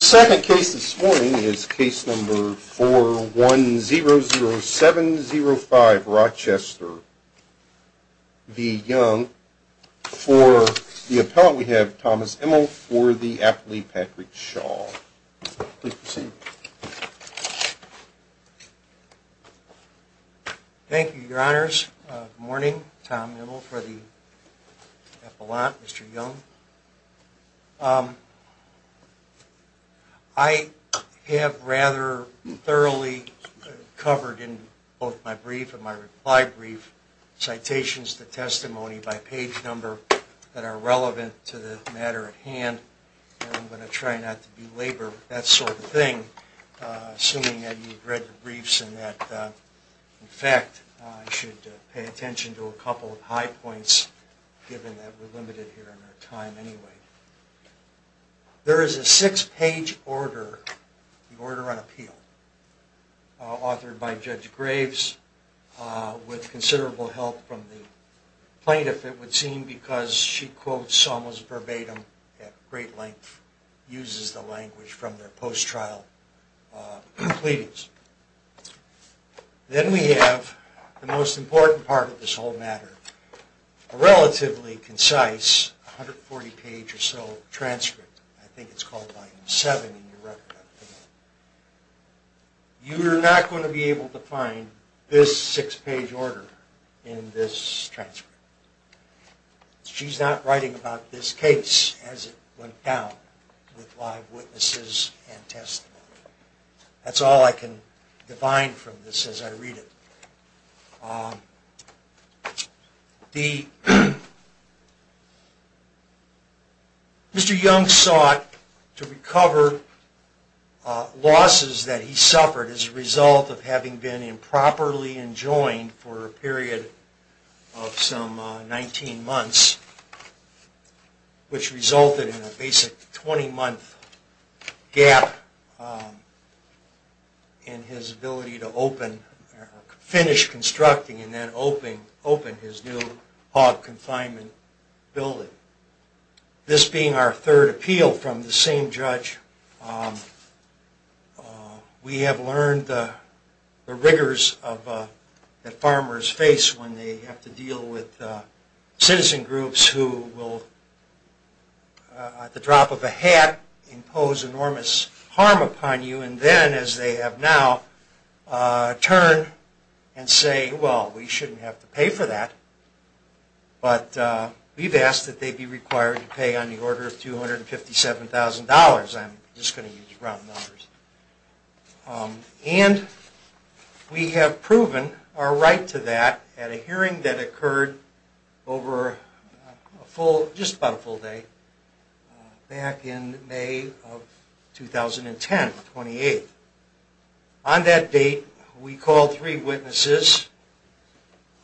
The second case this morning is case number 4100705 Rochester v. Young. For the appellant we have Thomas Immel for the appellate Patrick Shaw. Please proceed. Thank you, your honors. Good morning. Tom Immel for the appellant, Mr. Young. I have rather thoroughly covered in both my brief and my reply brief citations to testimony by page number that are relevant to the matter at hand, and I'm going to try not to belabor that sort of thing, assuming that you've read the briefs and that, in fact, I should pay attention to a couple of high points, given that we're limited here in our time anyway. There is a six-page order, the Order on Appeal, authored by Judge Graves, with considerable help from the plaintiff, it would seem, because she quotes almost verbatim at great length, uses the language from their post-trial pleadings. Then we have the most important part of this whole matter, a relatively concise 140-page or so transcript, I think it's called volume 7 in your record. You are not going to be able to find this six-page order in this with live witnesses and testimony. That's all I can define from this as I read it. Mr. Young sought to recover losses that he suffered as a result of having been improperly enjoined for a period of some 19 months, which resulted in a basic 20-month gap in his ability to finish constructing and then open his new hog confinement building. This being our third appeal from the same judge, we have learned the rigors that farmers face when they have to deal with citizen groups who will, at the drop of a hat, impose enormous harm upon you and then, as they have now, turn and say, well, we shouldn't have to pay for that. But we've asked that they be required to pay on the order of $257,000. I'm just going to use round numbers. And we have proven our right to that at a hearing that occurred over a full, just about a full day, back in May of 2010, 28. On that date, we called three witnesses.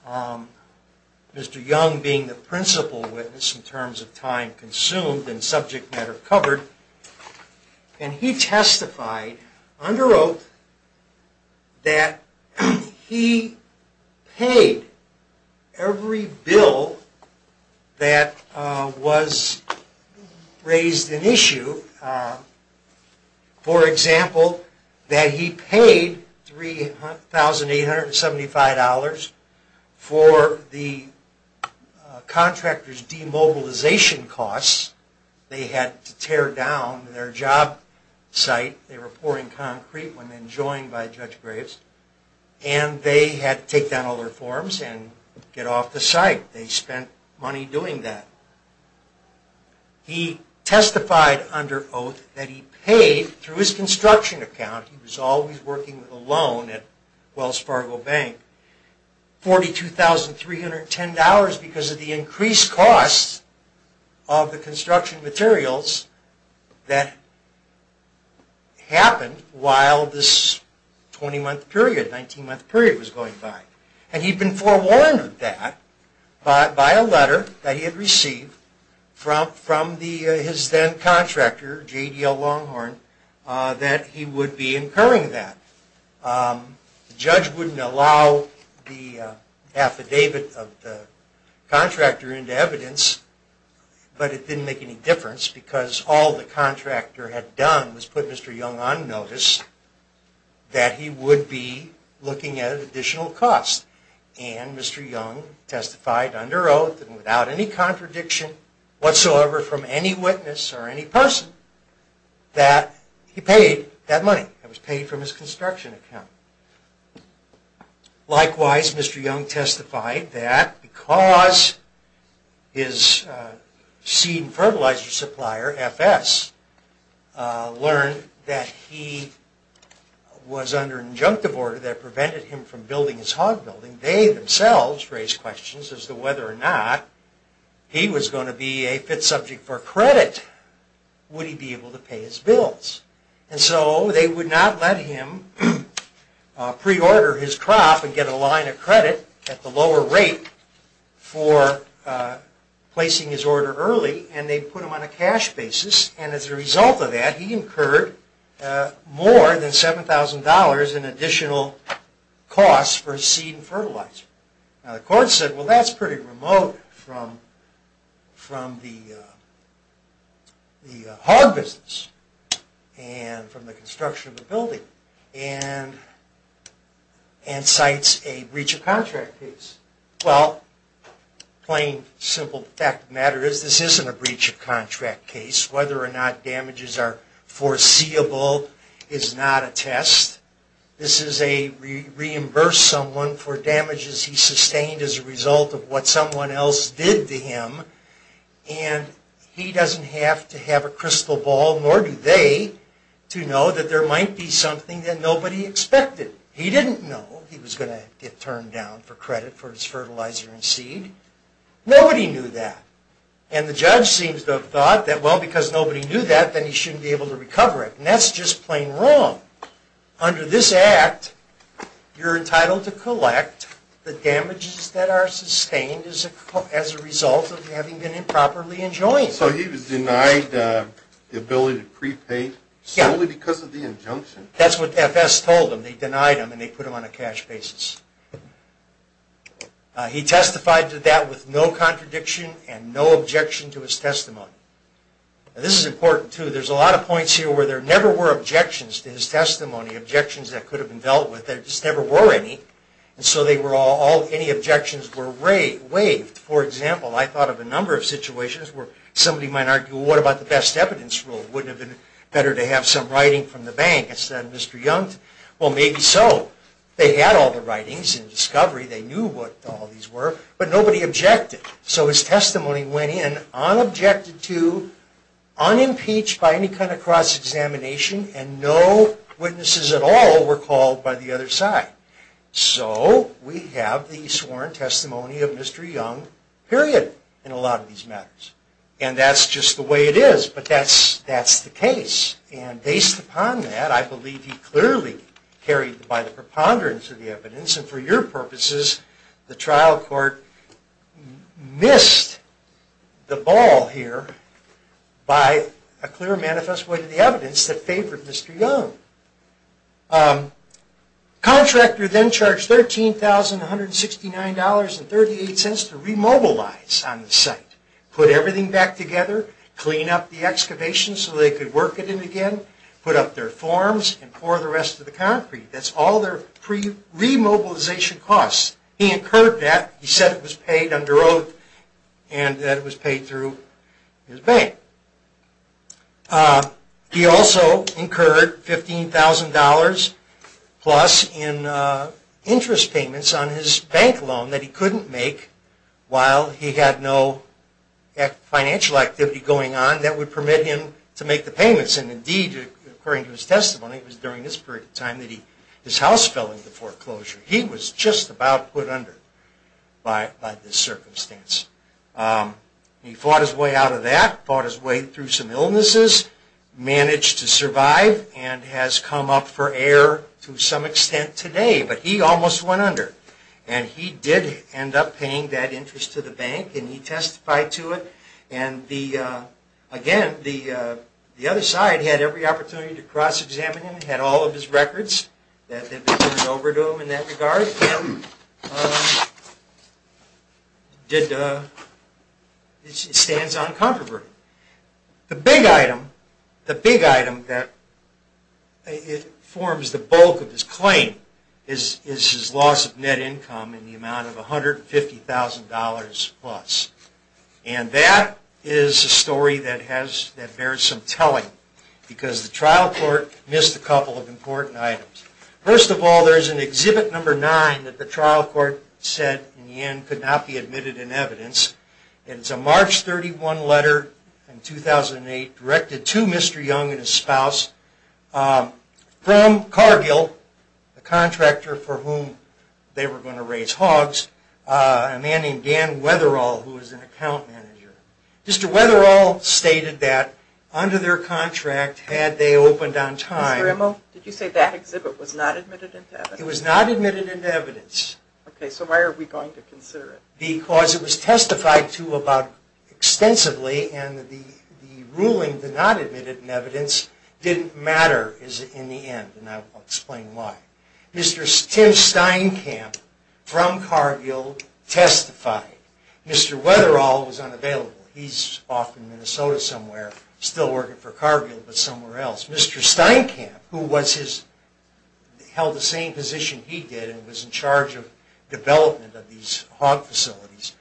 Mr. Young being the principal witness in terms of time consumed and subject matter covered. And he testified under oath that he paid every bill that was raised in issue. For example, that he paid $3,875 for the contractor's demobilization costs. They had to tear down their job site. They were pouring concrete when they were joined by Judge Graves. And they had to take down all their forms and get off the site. They spent money doing that. And he testified under oath that he paid, through his construction account, he was always working with a loan at Wells Fargo Bank, $42,310 because of the increased costs of the construction materials that happened while this 20-month period, 19-month period was going by. And he'd been forewarned of that by a letter that he had received from his then contractor, J.D.L. Longhorn, that he would be incurring that. The judge wouldn't allow the affidavit of the contractor into evidence, but it didn't make any difference because all the contractor had done was put Mr. Longhorn on notice that he would be looking at an additional cost. And Mr. Longhorn testified under oath and without any contradiction whatsoever from any witness or any person that he paid that money. It was paid from his construction account. Likewise, Mr. Longhorn testified that because his seed and fertilizer supplier, FS, learned that he was under injunctive order that prevented him from building his hog building, they themselves raised questions as to whether or not he was going to be a fit subject for credit would he be able to pay his bills. And so they would not let him pre-order his crop and get a line of credit at the lower rate for placing his order early, and they put him on a cash basis. And as a result of that, he incurred more than $7,000 in additional costs for seed and fertilizer. Now the court said, well, that's pretty remote from the hog business and from the construction of the building and cites a breach of contract case. Well, plain simple fact of the matter is this isn't a breach of contract case. Whether or not damages are foreseeable is not a test. This is a reimburse someone for damages he sustained as a result of what someone else did to him. And he doesn't have to have a crystal ball, nor do they, to know that there might be something that nobody expected. He didn't know he was going to get turned down for credit for his fertilizer and seed. Nobody knew that. And the judge seems to have thought that, well, because nobody knew that, then he shouldn't be able to recover it. And that's just plain wrong. Under this act, you're entitled to collect the damages that are sustained as a result of having been improperly enjoined. So he was denied the ability to prepay solely because of the injunction? That's what FS told him. They denied him and they put him on a cash basis. He testified to that with no contradiction and no objection to his testimony. This is important, too. There's a lot of points here where there never were objections to his testimony, objections that could have been dealt with. There just never were any. And so any objections were waived. For example, I thought of a number of situations where somebody might argue, well, what about the best evidence rule? Wouldn't it have been better to have some writing from the bank instead of Mr. Young? Well, maybe so. They had all the writings in Discovery. They knew what all these were, but nobody objected. So his testimony went in unobjected to, unimpeached by any kind of cross-examination, and no witnesses at all were called by the other side. So we have the sworn testimony of Mr. Young, period, in a lot of these matters. And that's just the way it is, but that's the case. And based upon that, I believe he clearly carried by the preponderance of the evidence. And for your purposes, the trial court missed the ball here by a clear manifest way to the evidence that favored Mr. Young. The contractor then charged $13,169.38 to remobilize on the site, put everything back together, clean up the excavation so they could work at it again, put up their forms, and pour the rest of the concrete. That's all their pre-remobilization costs. He incurred that. He said it was paid under oath, and that it was paid through his bank. He also incurred $15,000 plus in interest payments on his bank loan that he couldn't make while he had no financial activity going on that would permit him to make the payments. And indeed, according to his testimony, it was during this period of time that his house fell into foreclosure. He was just about put under by this circumstance. He fought his way out of that, fought his way through some illnesses, managed to survive, and has come up for air to some extent today, but he almost went under. And he did end up paying that interest to the bank, and he testified to it. And again, the other side had every opportunity to cross-examine him, had all of his records that they turned over to him in that regard. It stands uncontroverted. The big item that forms the bulk of his claim is his loss of net income in the amount of $150,000 plus. And that is a story that bears some telling, because the trial court missed a couple of important items. First of all, there's an Exhibit No. 9 that the trial court said in the end could not be admitted in evidence. It's a March 31 letter in 2008 directed to Mr. Young and his spouse from Cargill, a contractor for whom they were going to raise hogs, a man named Dan Weatherall, who was an account manager. Mr. Weatherall stated that under their contract, had they opened on March 31, 2008, Mr. Young would not have been admitted into evidence. It was not admitted into evidence. Okay, so why are we going to consider it? Because it was testified to about extensively, and the ruling to not admit it in evidence didn't matter in the end, and I'll explain why. Mr. Tim Steinkamp from Cargill testified. Mr. Weatherall was unavailable. He's off in Minnesota somewhere, still working for Cargill, but somewhere else. Mr. Steinkamp, who held the same position he did and was in charge of development of these hog facilities,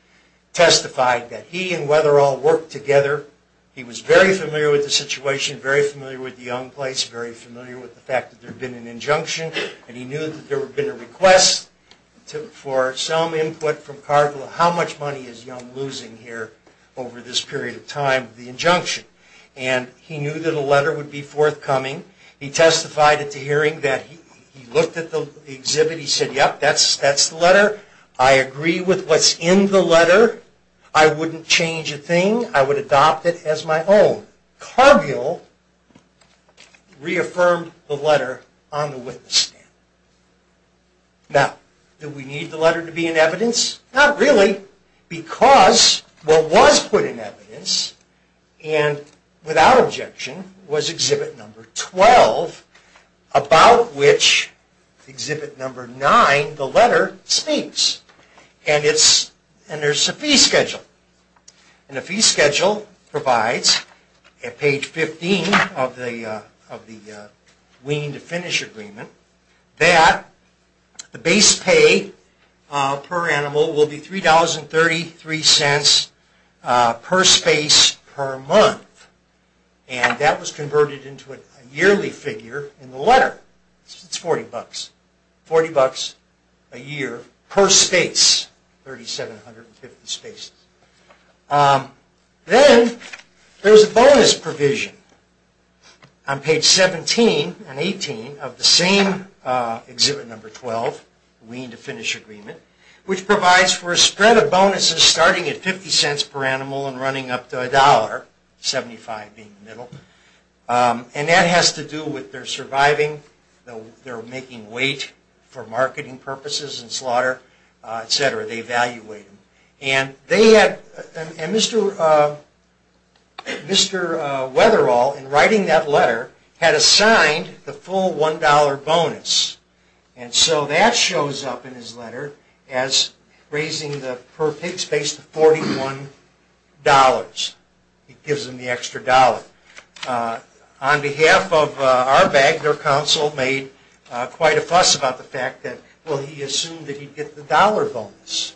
testified that he and Weatherall worked together. He was very familiar with the situation, very familiar with the Young place, very familiar with the fact that there had been an injunction, and he knew that there had been a request for some input from Cargill. How much money is Young losing here over this period of time with the injunction? And he knew that a letter would be forthcoming. He testified at the hearing that he looked at the exhibit. He said, yep, that's the letter. I agree with what's in the letter. I wouldn't change a thing. I would adopt it as my own. Cargill reaffirmed the letter on the witness stand. Now, do we need the letter to be in evidence? Not really, because what was put in evidence, and without objection, was exhibit number 12, about which exhibit number 9, the letter, speaks. And there's a fee schedule. And the fee schedule provides at page 15 of the wean to finish agreement that the base pay per animal will be $3.33 per space per month. And that was converted into a yearly figure in the letter. It's $40. $40 a year per space, 3,750 spaces. Then there's a bonus provision on page 17 and 18 of the same exhibit number 12, wean to finish agreement, which provides for a spread of bonuses starting at 50 cents per animal and running up to a dollar, 75 being the middle. And that has to do with their surviving, their making weight for marketing purposes and slaughter, etc. They evaluate them. And they had, and Mr. Wetherall, in writing that letter, had assigned the full $1 bonus. And so that shows up in his letter as raising the per pig space to $41. It gives him the extra dollar. On behalf of our council made quite a fuss about the fact that, well, he assumed that he'd get the dollar bonus.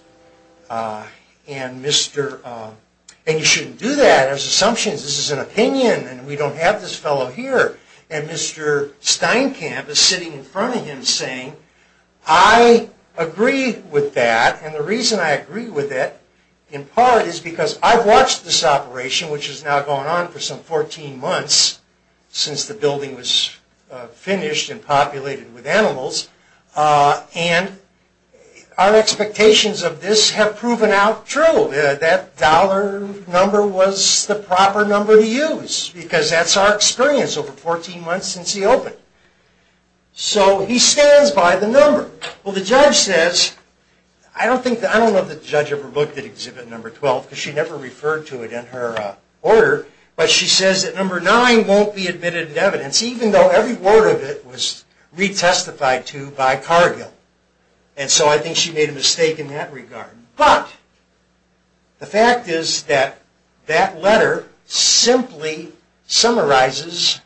And you shouldn't do that as assumptions. This is an opinion and we don't have this fellow here. And Mr. Steinkamp is sitting in front of him saying, I agree with that. And the reason I agree with it in part is because I've watched this operation, which is now going on for some 14 months since the building was finished and populated with animals. And our expectations of this have proven out true. That dollar number was the proper number to use because that's our experience over 14 months since he opened. So he stands by the number. Well, the judge says, I don't think, I don't know if the judge ever looked at exhibit number 12 because she never referred to it in her order, but she says that number nine won't be admitted in evidence, even though every word of it was retestified to by Cargill. And so I think she made a mistake in that regard. But the fact is that that letter simply summarizes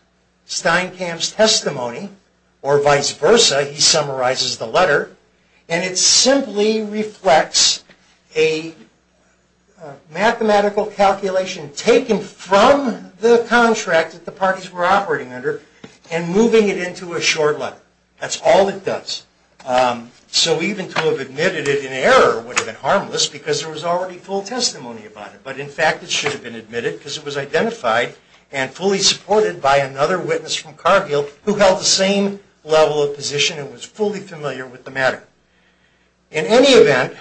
Steinkamp's testimony or vice versa. And it simply reflects a mathematical calculation taken from the contract that the parties were operating under and moving it into a short letter. That's all it does. So even to have admitted it in error would have been harmless because there was already full testimony about it. But in fact, it should have been admitted because it was identified and fully supported by another with the matter. In any event,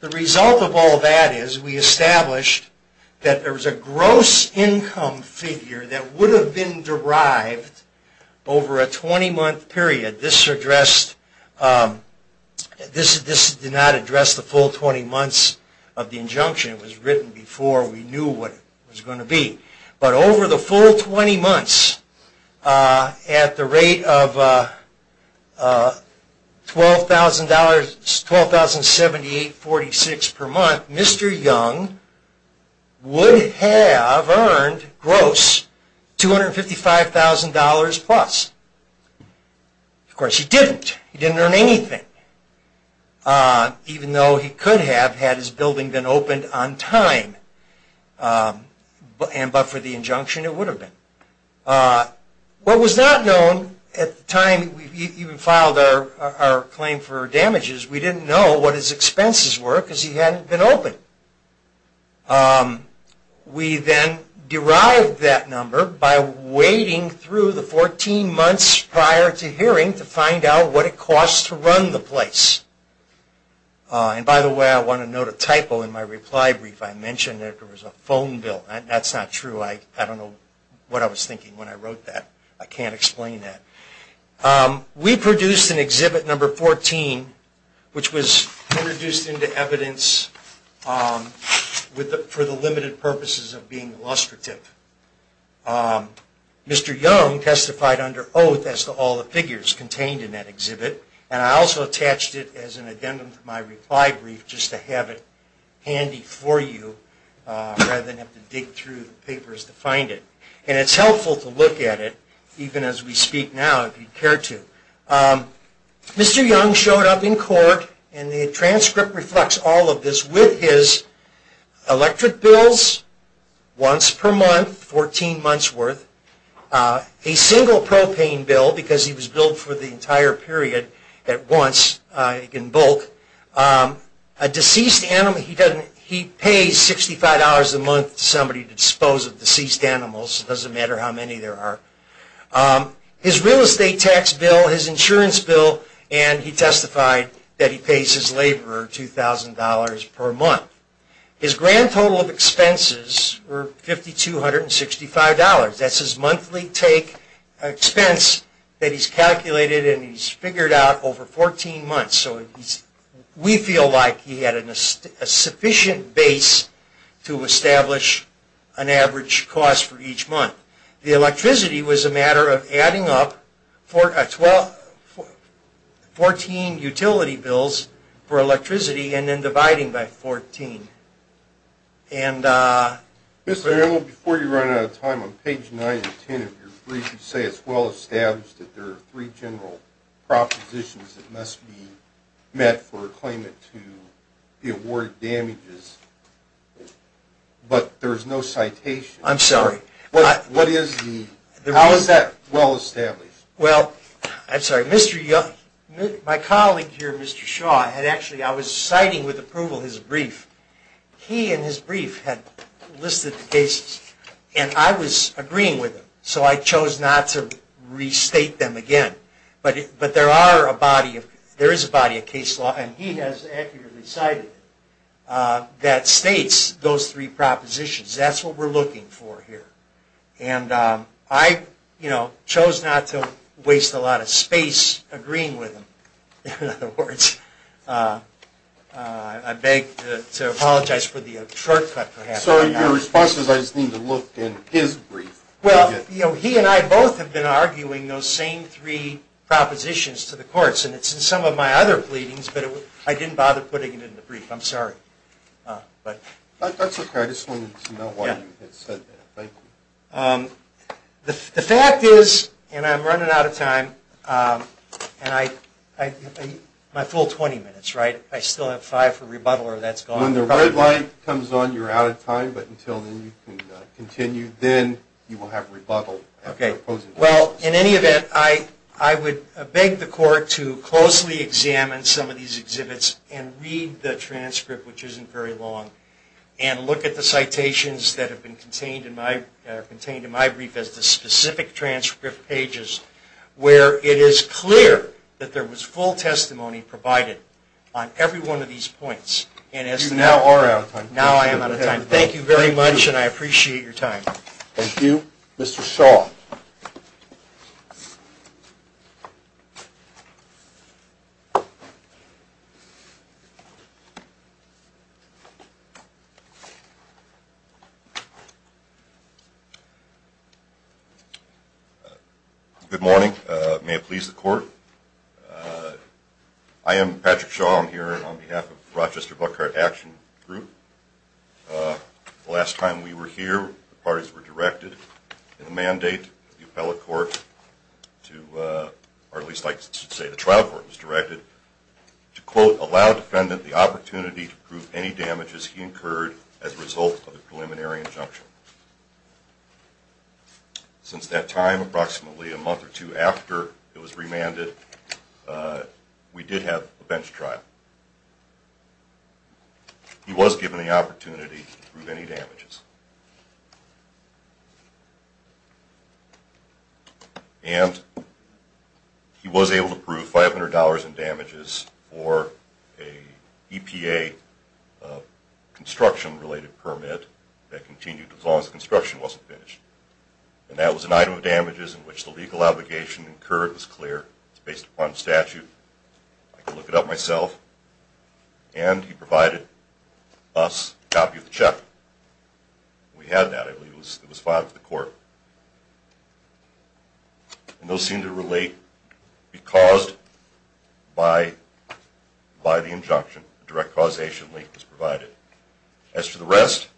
the result of all that is we established that there was a gross income figure that would have been derived over a 20-month period. This did not address the full 20 months of the injunction. It was written before we knew what it was going to be. But over the full 20 months, at the rate of $12,078.46 per month, Mr. Young would have earned gross $255,000 plus. Of course, he didn't. He didn't earn anything, even though he could have had his building been opened. What was not known at the time we even filed our claim for damages, we didn't know what his expenses were because he hadn't been opened. We then derived that number by waiting through the 14 months prior to hearing to find out what it costs to run the place. And by the way, I want to note a typo in my reply brief. I mentioned there was a phone bill. That's not true. I don't know what I was thinking when I wrote that. I can't explain that. We produced an exhibit number 14, which was introduced into evidence for the limited purposes of being illustrative. Mr. Young testified under oath as to all the figures contained in that exhibit. And I also attached it as an addendum to my reply brief just to have it handy for you rather than have to dig through the papers to find it. And it's helpful to look at it even as we speak now if you care to. Mr. Young showed up in court and the transcript reflects all of this with his electric bills once per month, 14 months worth, a single propane bill because he was billed for the entire period at once in bulk, a deceased animal. He pays $65 a month to somebody to dispose of deceased animals. It doesn't matter how many there are. His real estate tax bill, his insurance bill, and he testified that he pays his laborer $2,000 per month. His grand total of expenses were $5,265. That's his monthly take expense that he's calculated and he's figured out over 14 months. So we feel like he had a sufficient base to establish an average cost for each month. The electricity was a matter of adding up 14 utility bills for electricity and then dividing by 14. And Mr. Arnold, before you run out of time, on page 9 and 10 of your brief, you say it's well established that there are three general propositions that must be met for a claimant to award damages, but there's no citation. I'm sorry. How is that well established? Well, I'm sorry. My colleague here, Mr. Shaw, I was citing with approval his brief. He and his brief had listed the cases and I was agreeing with him, so I chose not to restate them again. But there is a body of case law and he has accurately cited it that states those three propositions. That's what we're looking for here. And I chose not to waste a lot of space agreeing with him. In other words, I beg to apologize for the short cut. So in your responses, I just need to look in his brief. Well, he and I both have been arguing those same three propositions to the courts and it's in some my other pleadings, but I didn't bother putting it in the brief. I'm sorry. That's okay. I just wanted to know why you had said that. Thank you. The fact is, and I'm running out of time, and my full 20 minutes, right? I still have five for rebuttal or that's gone. When the red light comes on, you're out of time, but until then you can continue, then you will have rebuttal. Okay. Well, in any event, I would beg the court to closely examine some of these exhibits and read the transcript, which isn't very long, and look at the citations that have been contained in my brief as the specific transcript pages where it is clear that there was full testimony provided on every one of these points. Now I am out of time. Thank you very much and I appreciate your time. Thank you. Mr. Shaw. Good morning. May it please the court. I am Patrick Shaw. I'm here on behalf of Rochester County District Attorney's Office. I'm here to report that the trial court was directed to quote, allow defendant the opportunity to prove any damages he incurred as a result of the preliminary injunction. Since that time, approximately a month or two after it was remanded, we did have a bench trial. He was given the opportunity to prove any damages. And he was able to prove $500 in damages for a EPA construction-related permit that continued as long as the construction wasn't finished. And that was an item of damages in which the legal obligation incurred was clear. It's based upon statute. I can look it up myself. And he provided us a copy of the check. We had that. I believe it was the next day. It was filed to the court. And those seem to relate because by the injunction, direct causation link was provided. As for the rest,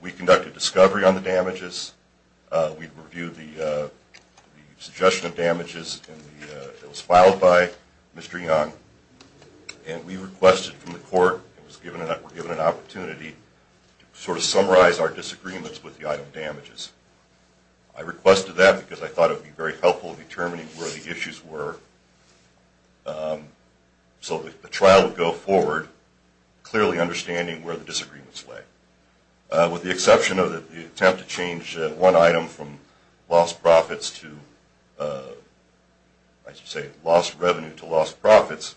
we conducted discovery on the damages. We reviewed the suggestion of damages and it was filed by Mr. Young. And we requested from the court that the trial court be able to prove any item of damages. I requested that because I thought it would be very helpful in determining where the issues were. So the trial would go forward clearly understanding where the disagreements lay. With the exception of the attempt to change one item from lost profits to, I should say, lost revenue to lost profits,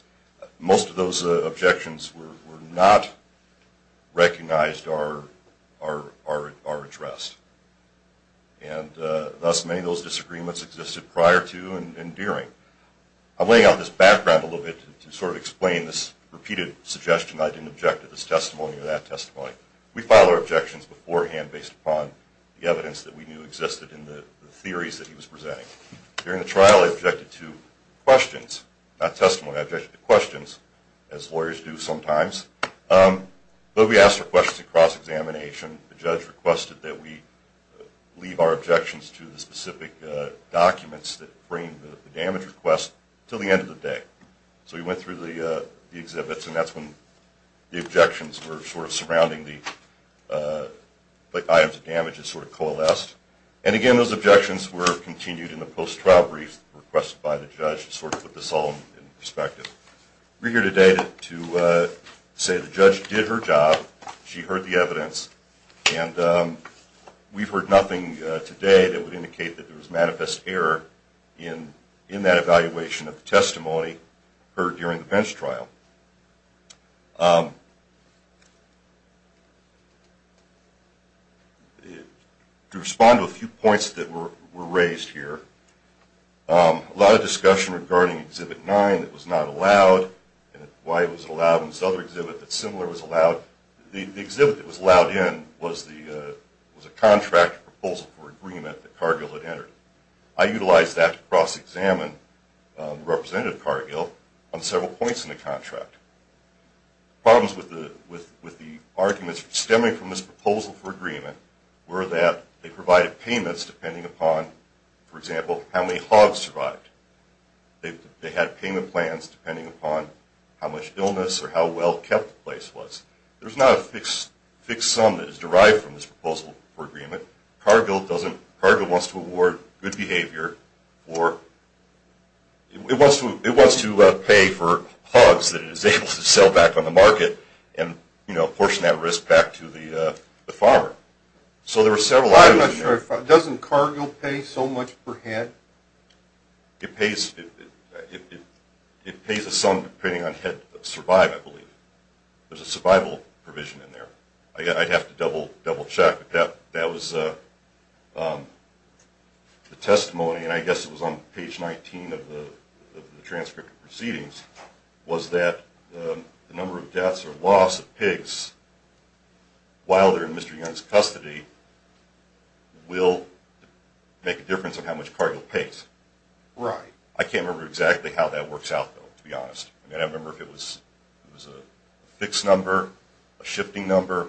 most of those objections were not recognized or addressed. And thus many of those disagreements existed prior to and during. I'm laying out this background a little bit to sort of explain this repeated suggestion I didn't object to this testimony or that testimony. We filed our objections beforehand based upon the evidence that we knew existed in the theories that he was presenting. During the trial, I objected to questions, not testimony. I objected to questions as lawyers do sometimes. But we asked for questions across examination. The judge requested that we leave our objections to the specific documents that frame the damage request until the end of the day. So we went through the exhibits and that's when the objections were sort of surrounding the items of damage and sort of coalesced. And again, those objections were continued in the post-trial brief requested by the judge to sort of put this all in perspective. We're here today to say the judge did her job. She heard the evidence and we've heard nothing today that would indicate that there was manifest error in that evaluation of the testimony heard during the bench trial. To respond to a few points that were raised here, a lot of discussion regarding Exhibit 9 that was not allowed and why it was allowed and this other exhibit that's similar was allowed. The exhibit that was allowed in was a contract proposal for agreement that Cargill had entered. I utilized that to cross-examine Representative Cargill on several points in the contract. Problems with the arguments stemming from this proposal for agreement were that they provided payments depending upon, for example, how many hogs survived. They had payment plans depending upon how much illness or how well kept the place was. There's not a fixed sum that is derived from this proposal for agreement. Cargill wants to award good behavior or it wants to pay for hogs that portion that risk back to the farmer. So there were several items in there. Doesn't Cargill pay so much per head? It pays a sum depending on how many survived, I believe. There's a survival provision in there. I'd have to double check. That was the testimony and I guess it was on page 19 of the transcript proceedings was that the number of deaths or loss of pigs while they're in Mr. Young's custody will make a difference on how much Cargill pays. I can't remember exactly how that works out though, to be honest. I mean I remember if it was a fixed number, a shifting number.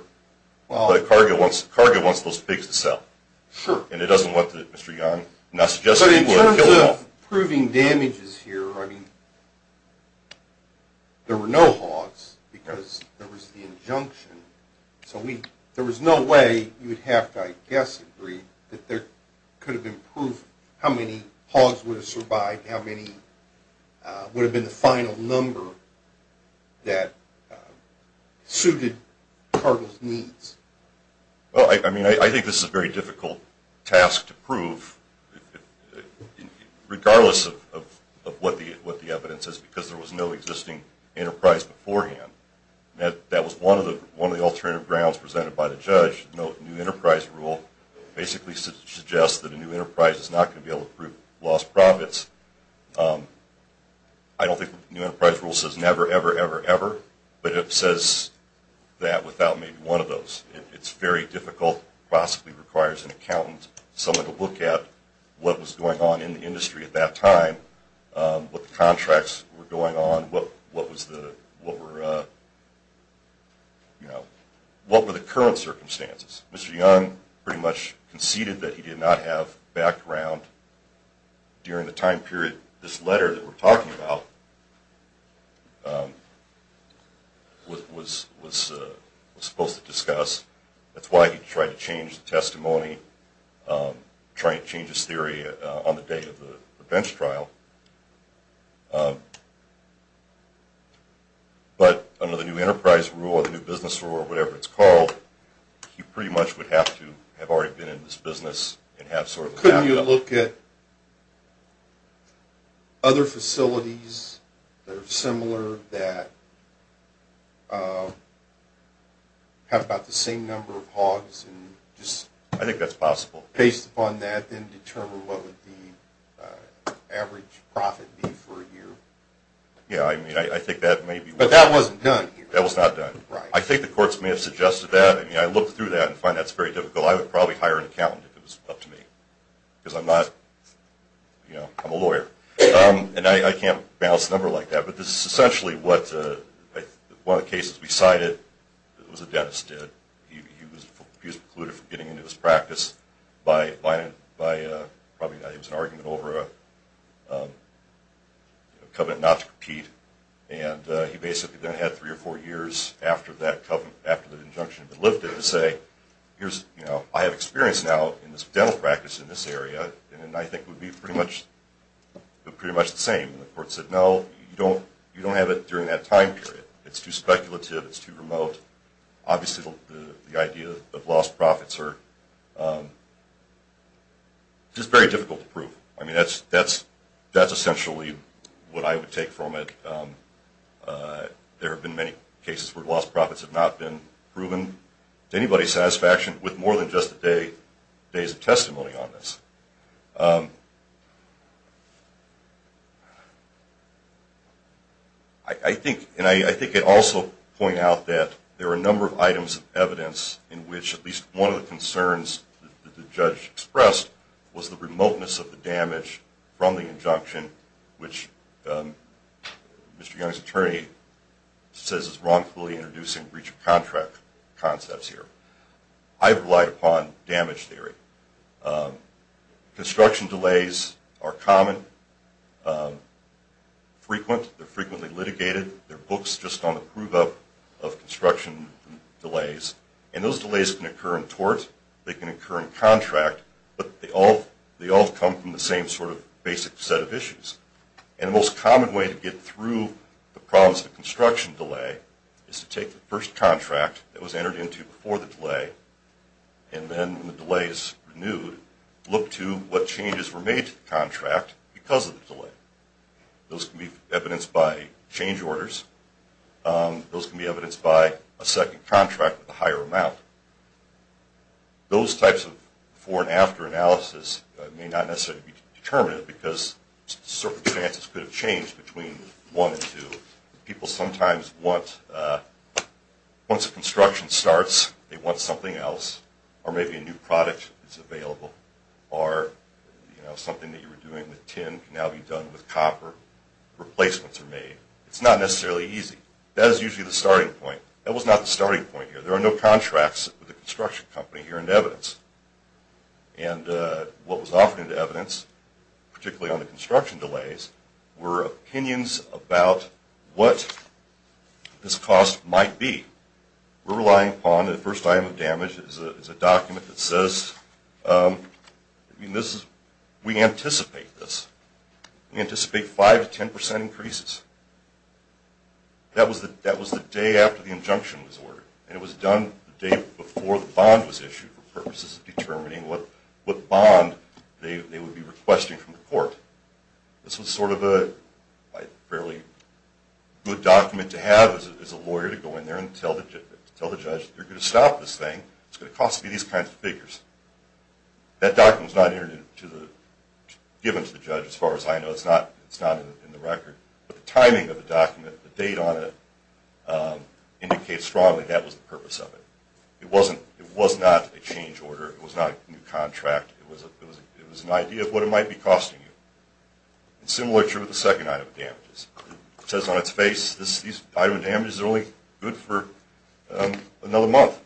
Cargill wants those pigs to sell and it doesn't want Mr. Young not suggesting people are killing them. In terms of proving damages here, I mean there were no hogs because there was the injunction. So there was no way you would have to, I guess, agree that there could have been proof how many hogs would have survived, how many would have been the final number that suited Cargill's needs. Well I mean I think this is a very difficult task to prove regardless of what the evidence is because there was no existing enterprise beforehand. That was one of the alternative grounds presented by the judge. The new enterprise rule basically suggests that a new enterprise is not going to be able to prove lost profits. I don't think the new enterprise rule says never, ever, ever, but it says that without maybe one of those. It's very difficult, possibly requires an accountant, someone to look at what was going on in the industry at that time, what the contracts were going on, what were the current circumstances. Mr. Young pretty much conceded that he did not have background during the time period this letter that we're talking about was supposed to discuss. That's why he tried to change the testimony, trying to change his theory on the day of the bench trial. But under the new enterprise rule or the new business rule or whatever it's called, he pretty much would have to have already been in this business. Couldn't you look at other facilities that are similar that have about the same number of hogs? I think that's possible. Based upon that then determine what would the average profit be for a year. Yeah I mean I think that may be. But that wasn't done. That was not done. I think the courts may have suggested that. I mean I looked through that and find that's very difficult. I would probably hire an accountant if it was up to me because I'm not, you know, I'm a lawyer and I can't balance the number like that. But this is essentially what one of the cases we cited, it was a dentist did. He was precluded from getting into this practice by probably it was an argument over a covenant not to compete and he basically then had three or four years after the injunction had been lifted to say here's, you know, I have experience now in this dental practice in this area and I think it would be pretty much the same. And the court said no, you don't have it during that time period. It's too speculative. It's too remote. Obviously the idea of lost profits are just very difficult to prove. I mean that's essentially what I would take from it. There have been many cases where lost profits have not been proven to anybody's satisfaction with more than just a day's testimony on this. I think and I think it also point out that there are a number of items of evidence in which at least one of the concerns that the judge expressed was the remoteness of the damage from the which Mr. Young's attorney says is wrongfully introducing breach of contract concepts here. I've relied upon damage theory. Construction delays are common, frequent, they're frequently litigated, they're books just on the prove-up of construction delays and those delays can occur in tort, they can occur in contract, but they all come from the same sort of basic set of issues. And the most common way to get through the problems of construction delay is to take the first contract that was entered into before the delay and then when the delay is renewed, look to what changes were made to the contract because of the delay. Those can be evidenced by change orders. Those can be evidenced by a second contract with a higher determinant because circumstances could have changed between one and two. People sometimes want, once the construction starts, they want something else or maybe a new product that's available or you know something that you were doing with tin can now be done with copper, replacements are made. It's not necessarily easy. That is usually the starting point. That was not the starting point here. There are no contracts with the construction company here in evidence and what was offered in evidence, particularly on the construction delays, were opinions about what this cost might be. We're relying upon the first item of damage is a document that says we anticipate this. We anticipate five to ten percent increases. That was the day after the injunction was ordered and it was done the day before the bond was determined and what bond they would be requesting from the court. This was sort of a fairly good document to have as a lawyer to go in there and tell the judge they're going to stop this thing. It's going to cost me these kinds of figures. That document was not given to the judge as far as I know. It's not in the record, but the timing of the document, the date on it, indicates strongly that was the purpose of it. It was not a change order. It was not a new contract. It was an idea of what it might be costing you. It's similar to the second item of damages. It says on its face this item of damages is only good for another month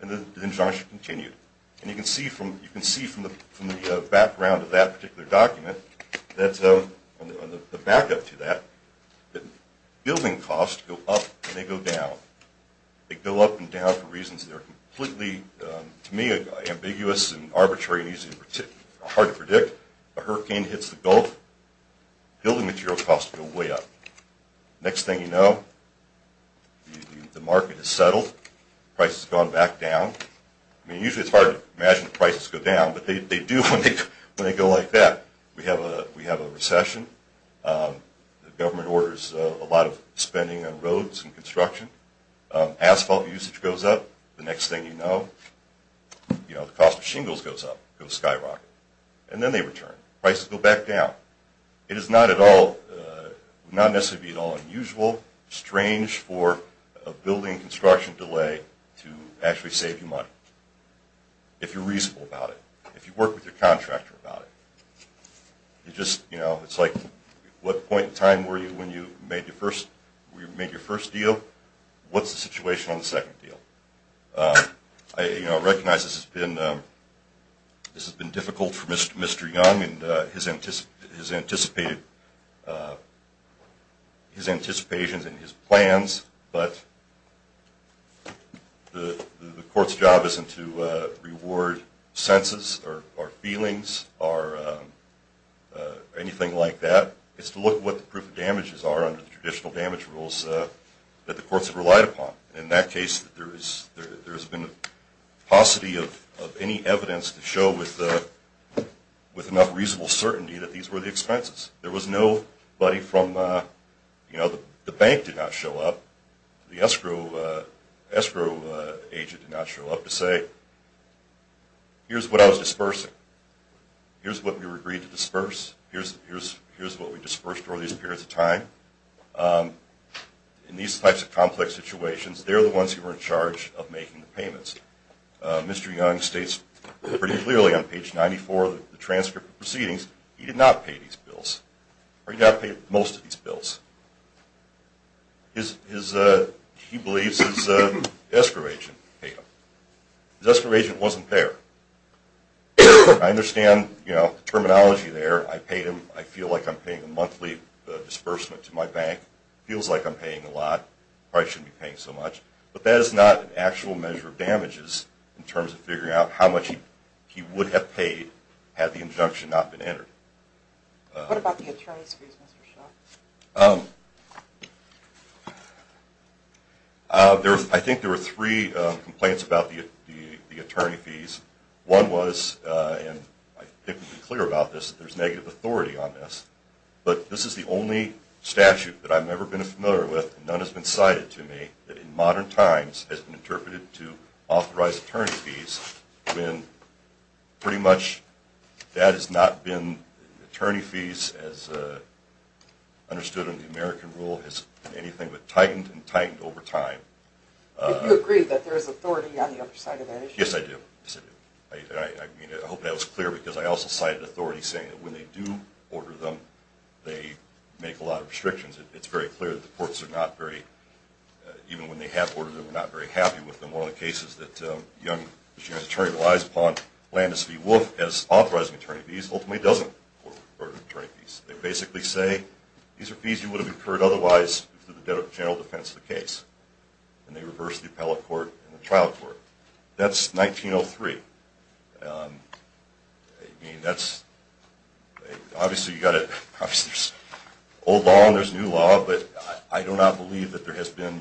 and the injunction continued. You can see from the background of that particular document, the backup to that, that building costs go up and they go down. They go up and down for reasons that are completely, to me, ambiguous and arbitrary and hard to predict. A hurricane hits the Gulf, building material costs go way up. Next thing you know, the market is settled, price has gone back down. I mean, usually it's hard to imagine prices go down, but they do when they go like that. We have a recession. The government orders a lot of spending on roads and construction. Asphalt usage goes up. The next thing you know, the cost of shingles goes up, goes skyrocket, and then they return. Prices go back down. It is not at all, not necessarily at all unusual, strange for a building construction delay to actually save you money, if you're reasonable about it, if you work with your contractor about it. It's just, you know, it's like, what point in time were you when you made your first deal? What's the situation on the second deal? I recognize this has been difficult for Mr. Young and his anticipated, his anticipations and his plans, but the court's job isn't to reward senses or feelings or anything like that. It's to look at what the proof of damages are under the traditional damage rules that the courts have relied upon. In that case, there has been a paucity of any evidence to show with enough reasonable certainty that these were the expenses. There was nobody from, you know, the bank did not show up. The escrow agent did not show up to say, here's what I was dispersing. Here's what we agreed to disperse. Here's what we dispersed over these periods of time. In these types of complex situations, they're the ones who are in charge of making the payments. Mr. Young states pretty clearly on page 94 of the transcript of these bills. He believes his escrow agent paid him. His escrow agent wasn't there. I understand, you know, the terminology there. I paid him. I feel like I'm paying a monthly disbursement to my bank. It feels like I'm paying a lot. I probably shouldn't be paying so much. But that is not an actual measure of damages in terms of figuring out how much he would have paid had the injunction not been entered. What about the attorney's fees, Mr. Shaw? I think there were three complaints about the attorney fees. One was, and I think we've been clear about this, that there's negative authority on this. But this is the only statute that I've never been familiar with, and none has been cited to me, that in modern times has been interpreted to authorize attorney fees, when pretty much that has not been, attorney fees as understood in the American rule, has been anything but tightened and tightened over time. Do you agree that there is authority on the other side of that issue? Yes, I do. I hope that was clear, because I also cited authority saying that when they do order them, they make a lot of restrictions. It's very clear that the courts are not very, even when they have ordered them, they're not very happy with them. One of the cases that young Virginia's attorney relies upon, Landis v. Wolfe, as authorizing attorney fees, ultimately doesn't order attorney fees. They basically say, these are fees you would have incurred otherwise through the general defense of the case. And they reverse the appellate court and the trial court. That's 1903. I mean, that's, obviously you've got to, there's old law and there's new law, but I do not believe that there has been,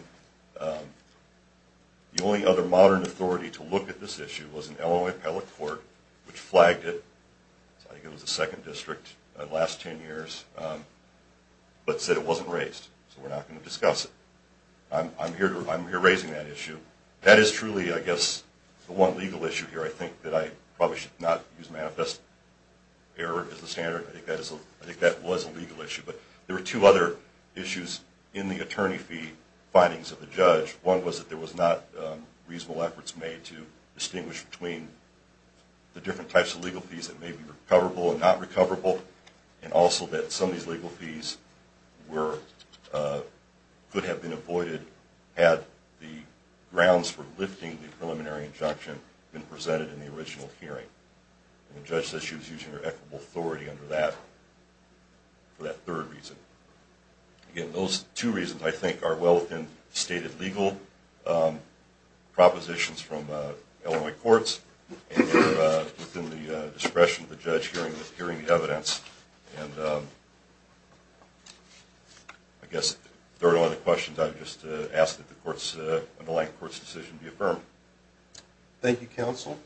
the only other modern authority to look at this issue was an Illinois appellate court, which flagged it, I think it was the second district in the last 10 years, but said it wasn't raised, so we're not going to discuss it. I'm here raising that issue. That is truly, I guess, the one legal issue here. I think that I probably should not use manifest error as the standard. I think that was a legal issue, but there were two other issues in the attorney fee findings of the judge. One was that there was not reasonable efforts made to distinguish between the different types of legal fees that may be recoverable and not recoverable, and also that some of these legal fees were, could have been avoided had the grounds for lifting the preliminary injunction been presented in the original hearing. And the judge said she was using her equitable authority under that for that third reason. Again, those two reasons, I think, are well within stated legal propositions from Illinois courts and within the discretion of the judge hearing the evidence. And I guess, if there are no other questions, I'd just ask that the underlying court's decision be affirmed. Thank you, counsel.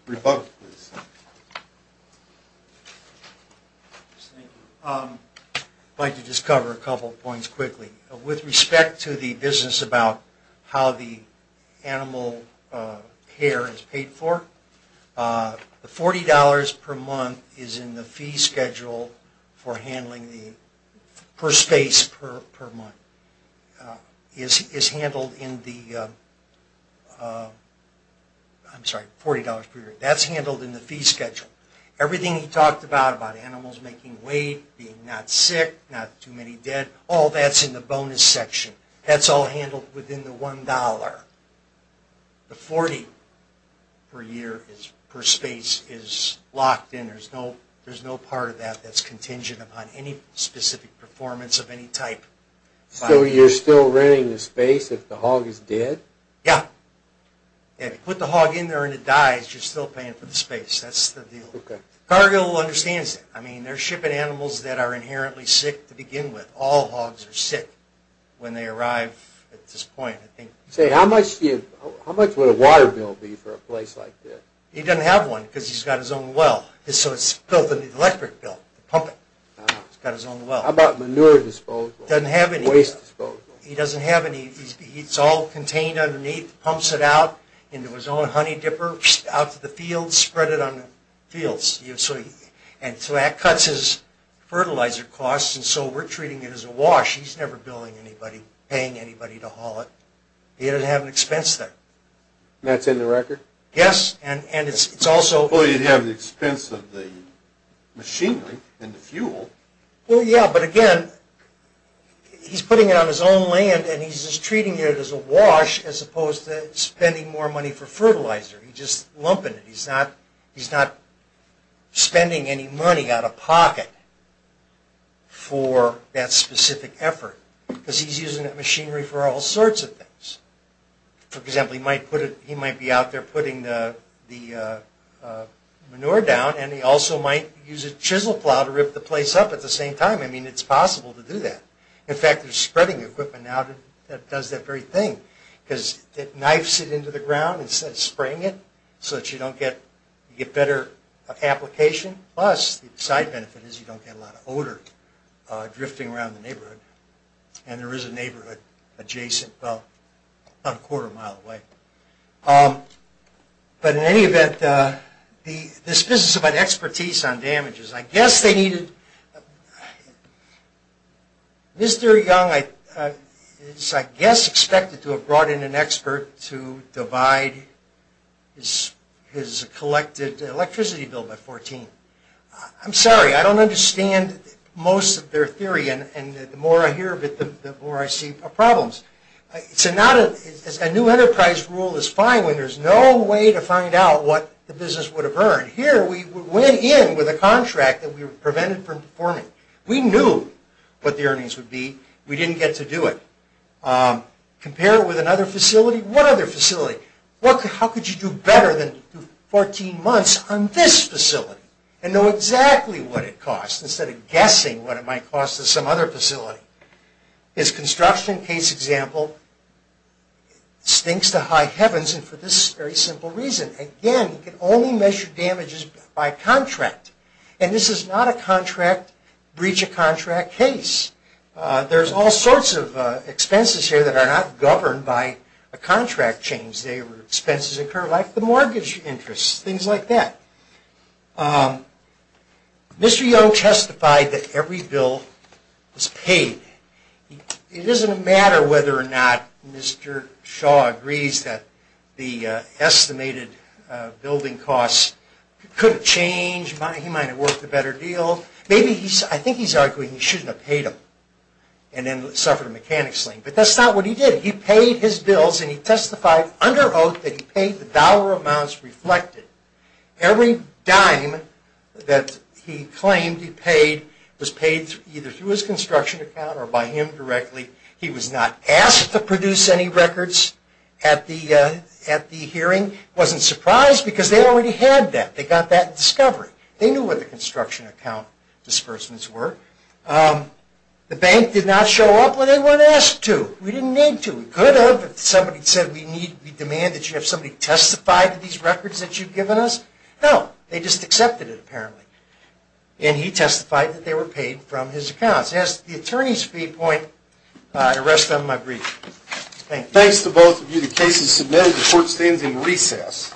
I'd like to just cover a couple of points quickly. With respect to the business about how the animal care is paid for, the $40 per month is in the fee schedule for handling the, per space per month, is handled in the, I'm sorry, $40 per year. That's handled in the fee schedule. Everything he talked about, about animals making weight, being not sick, not too many dead, all that's in the bonus section. That's all handled within the $1. The $40 per year is, per space, is locked in. There's no, there's no part of that that's contingent upon any specific performance of any type. So you're still renting the space if the hog is dead? Yeah. Yeah, if you put the hog in there and it dies, you're still paying for the space. That's the deal. Cargill understands that. I mean, they're shipping animals that are inherently sick to begin with. All hogs are sick when they arrive at this point, I think. Say, how much do you, how much would a water bill be for a place like this? He doesn't have one because he's got his own well. So it's built with an electric bill, pump it. He's got his own well. How about manure disposal? Doesn't have any. Waste disposal. He doesn't have any. It's all contained underneath, pumps it out into his own honey dipper, out to the field, spread it on the fields. And so that cuts his fertilizer costs, and so we're treating it as a wash. He's never billing anybody, paying anybody to haul it. He doesn't have an expense there. That's in the record? Yes, and it's also... You'd have the expense of the machinery and the fuel. Well, yeah, but again, he's putting it on his own land and he's just treating it as a wash as opposed to spending more money for fertilizer. He's just lumping it. He's not spending any money out of pocket for that specific effort because he's using that machinery for all sorts of things. For example, he might be out there putting the manure down and he also might use a chisel plow to rip the place up at the same time. I mean, it's possible to do that. In fact, they're spreading equipment out that does that very thing because it knifes it into the ground instead of spraying it so that you get better application. Plus, the side benefit is you don't get a lot of odor drifting around the neighborhood and there is a neighborhood adjacent about a quarter mile away. But in any event, this business about expertise on damages, I guess they needed... Mr. Young is, I guess, expected to have brought in an expert to divide his collected electricity bill by 14. I'm sorry, I don't understand most of their theory and the more I hear of it, the more I see problems. A new enterprise rule is fine when there's no way to find out what the business would have earned. Here, we went in with a contract that we were prevented from performing. We knew what the earnings would be. We didn't get to do it. Compare it with another facility. What other facility? How could you do better than 14 months on this facility and know exactly what it costs instead of guessing what it might cost to some other facility? This construction case example stinks to high heavens and for this very simple reason. Again, you can only measure damages by contract and this is not a contract, breach a contract case. There's all sorts of expenses here that are not governed by a contract change. They were expenses incurred like the mortgage interest, things like that. Mr. Young testified that every bill was paid. It doesn't matter whether or not Mr. Shaw agrees that the estimated building costs could have changed, he might have worked a better deal. Maybe he's, I think he's arguing he shouldn't have paid them and then suffered a mechanic sling. But that's not what he did. He paid his bills and he testified under oath that he paid the dollar amounts reflected. Every dime that he claimed he paid was paid either through his wasn't surprised because they already had that. They got that in discovery. They knew what the construction account disbursements were. The bank did not show up when they weren't asked to. We didn't need to. We could have if somebody said we need, we demand that you have somebody testify to these records that you've given us. No, they just accepted it apparently. And he testified that they were paid from his accounts. As the attorney's viewpoint, I rest on my brief. Thanks to both of you. The case is submitted. The court stands in recess.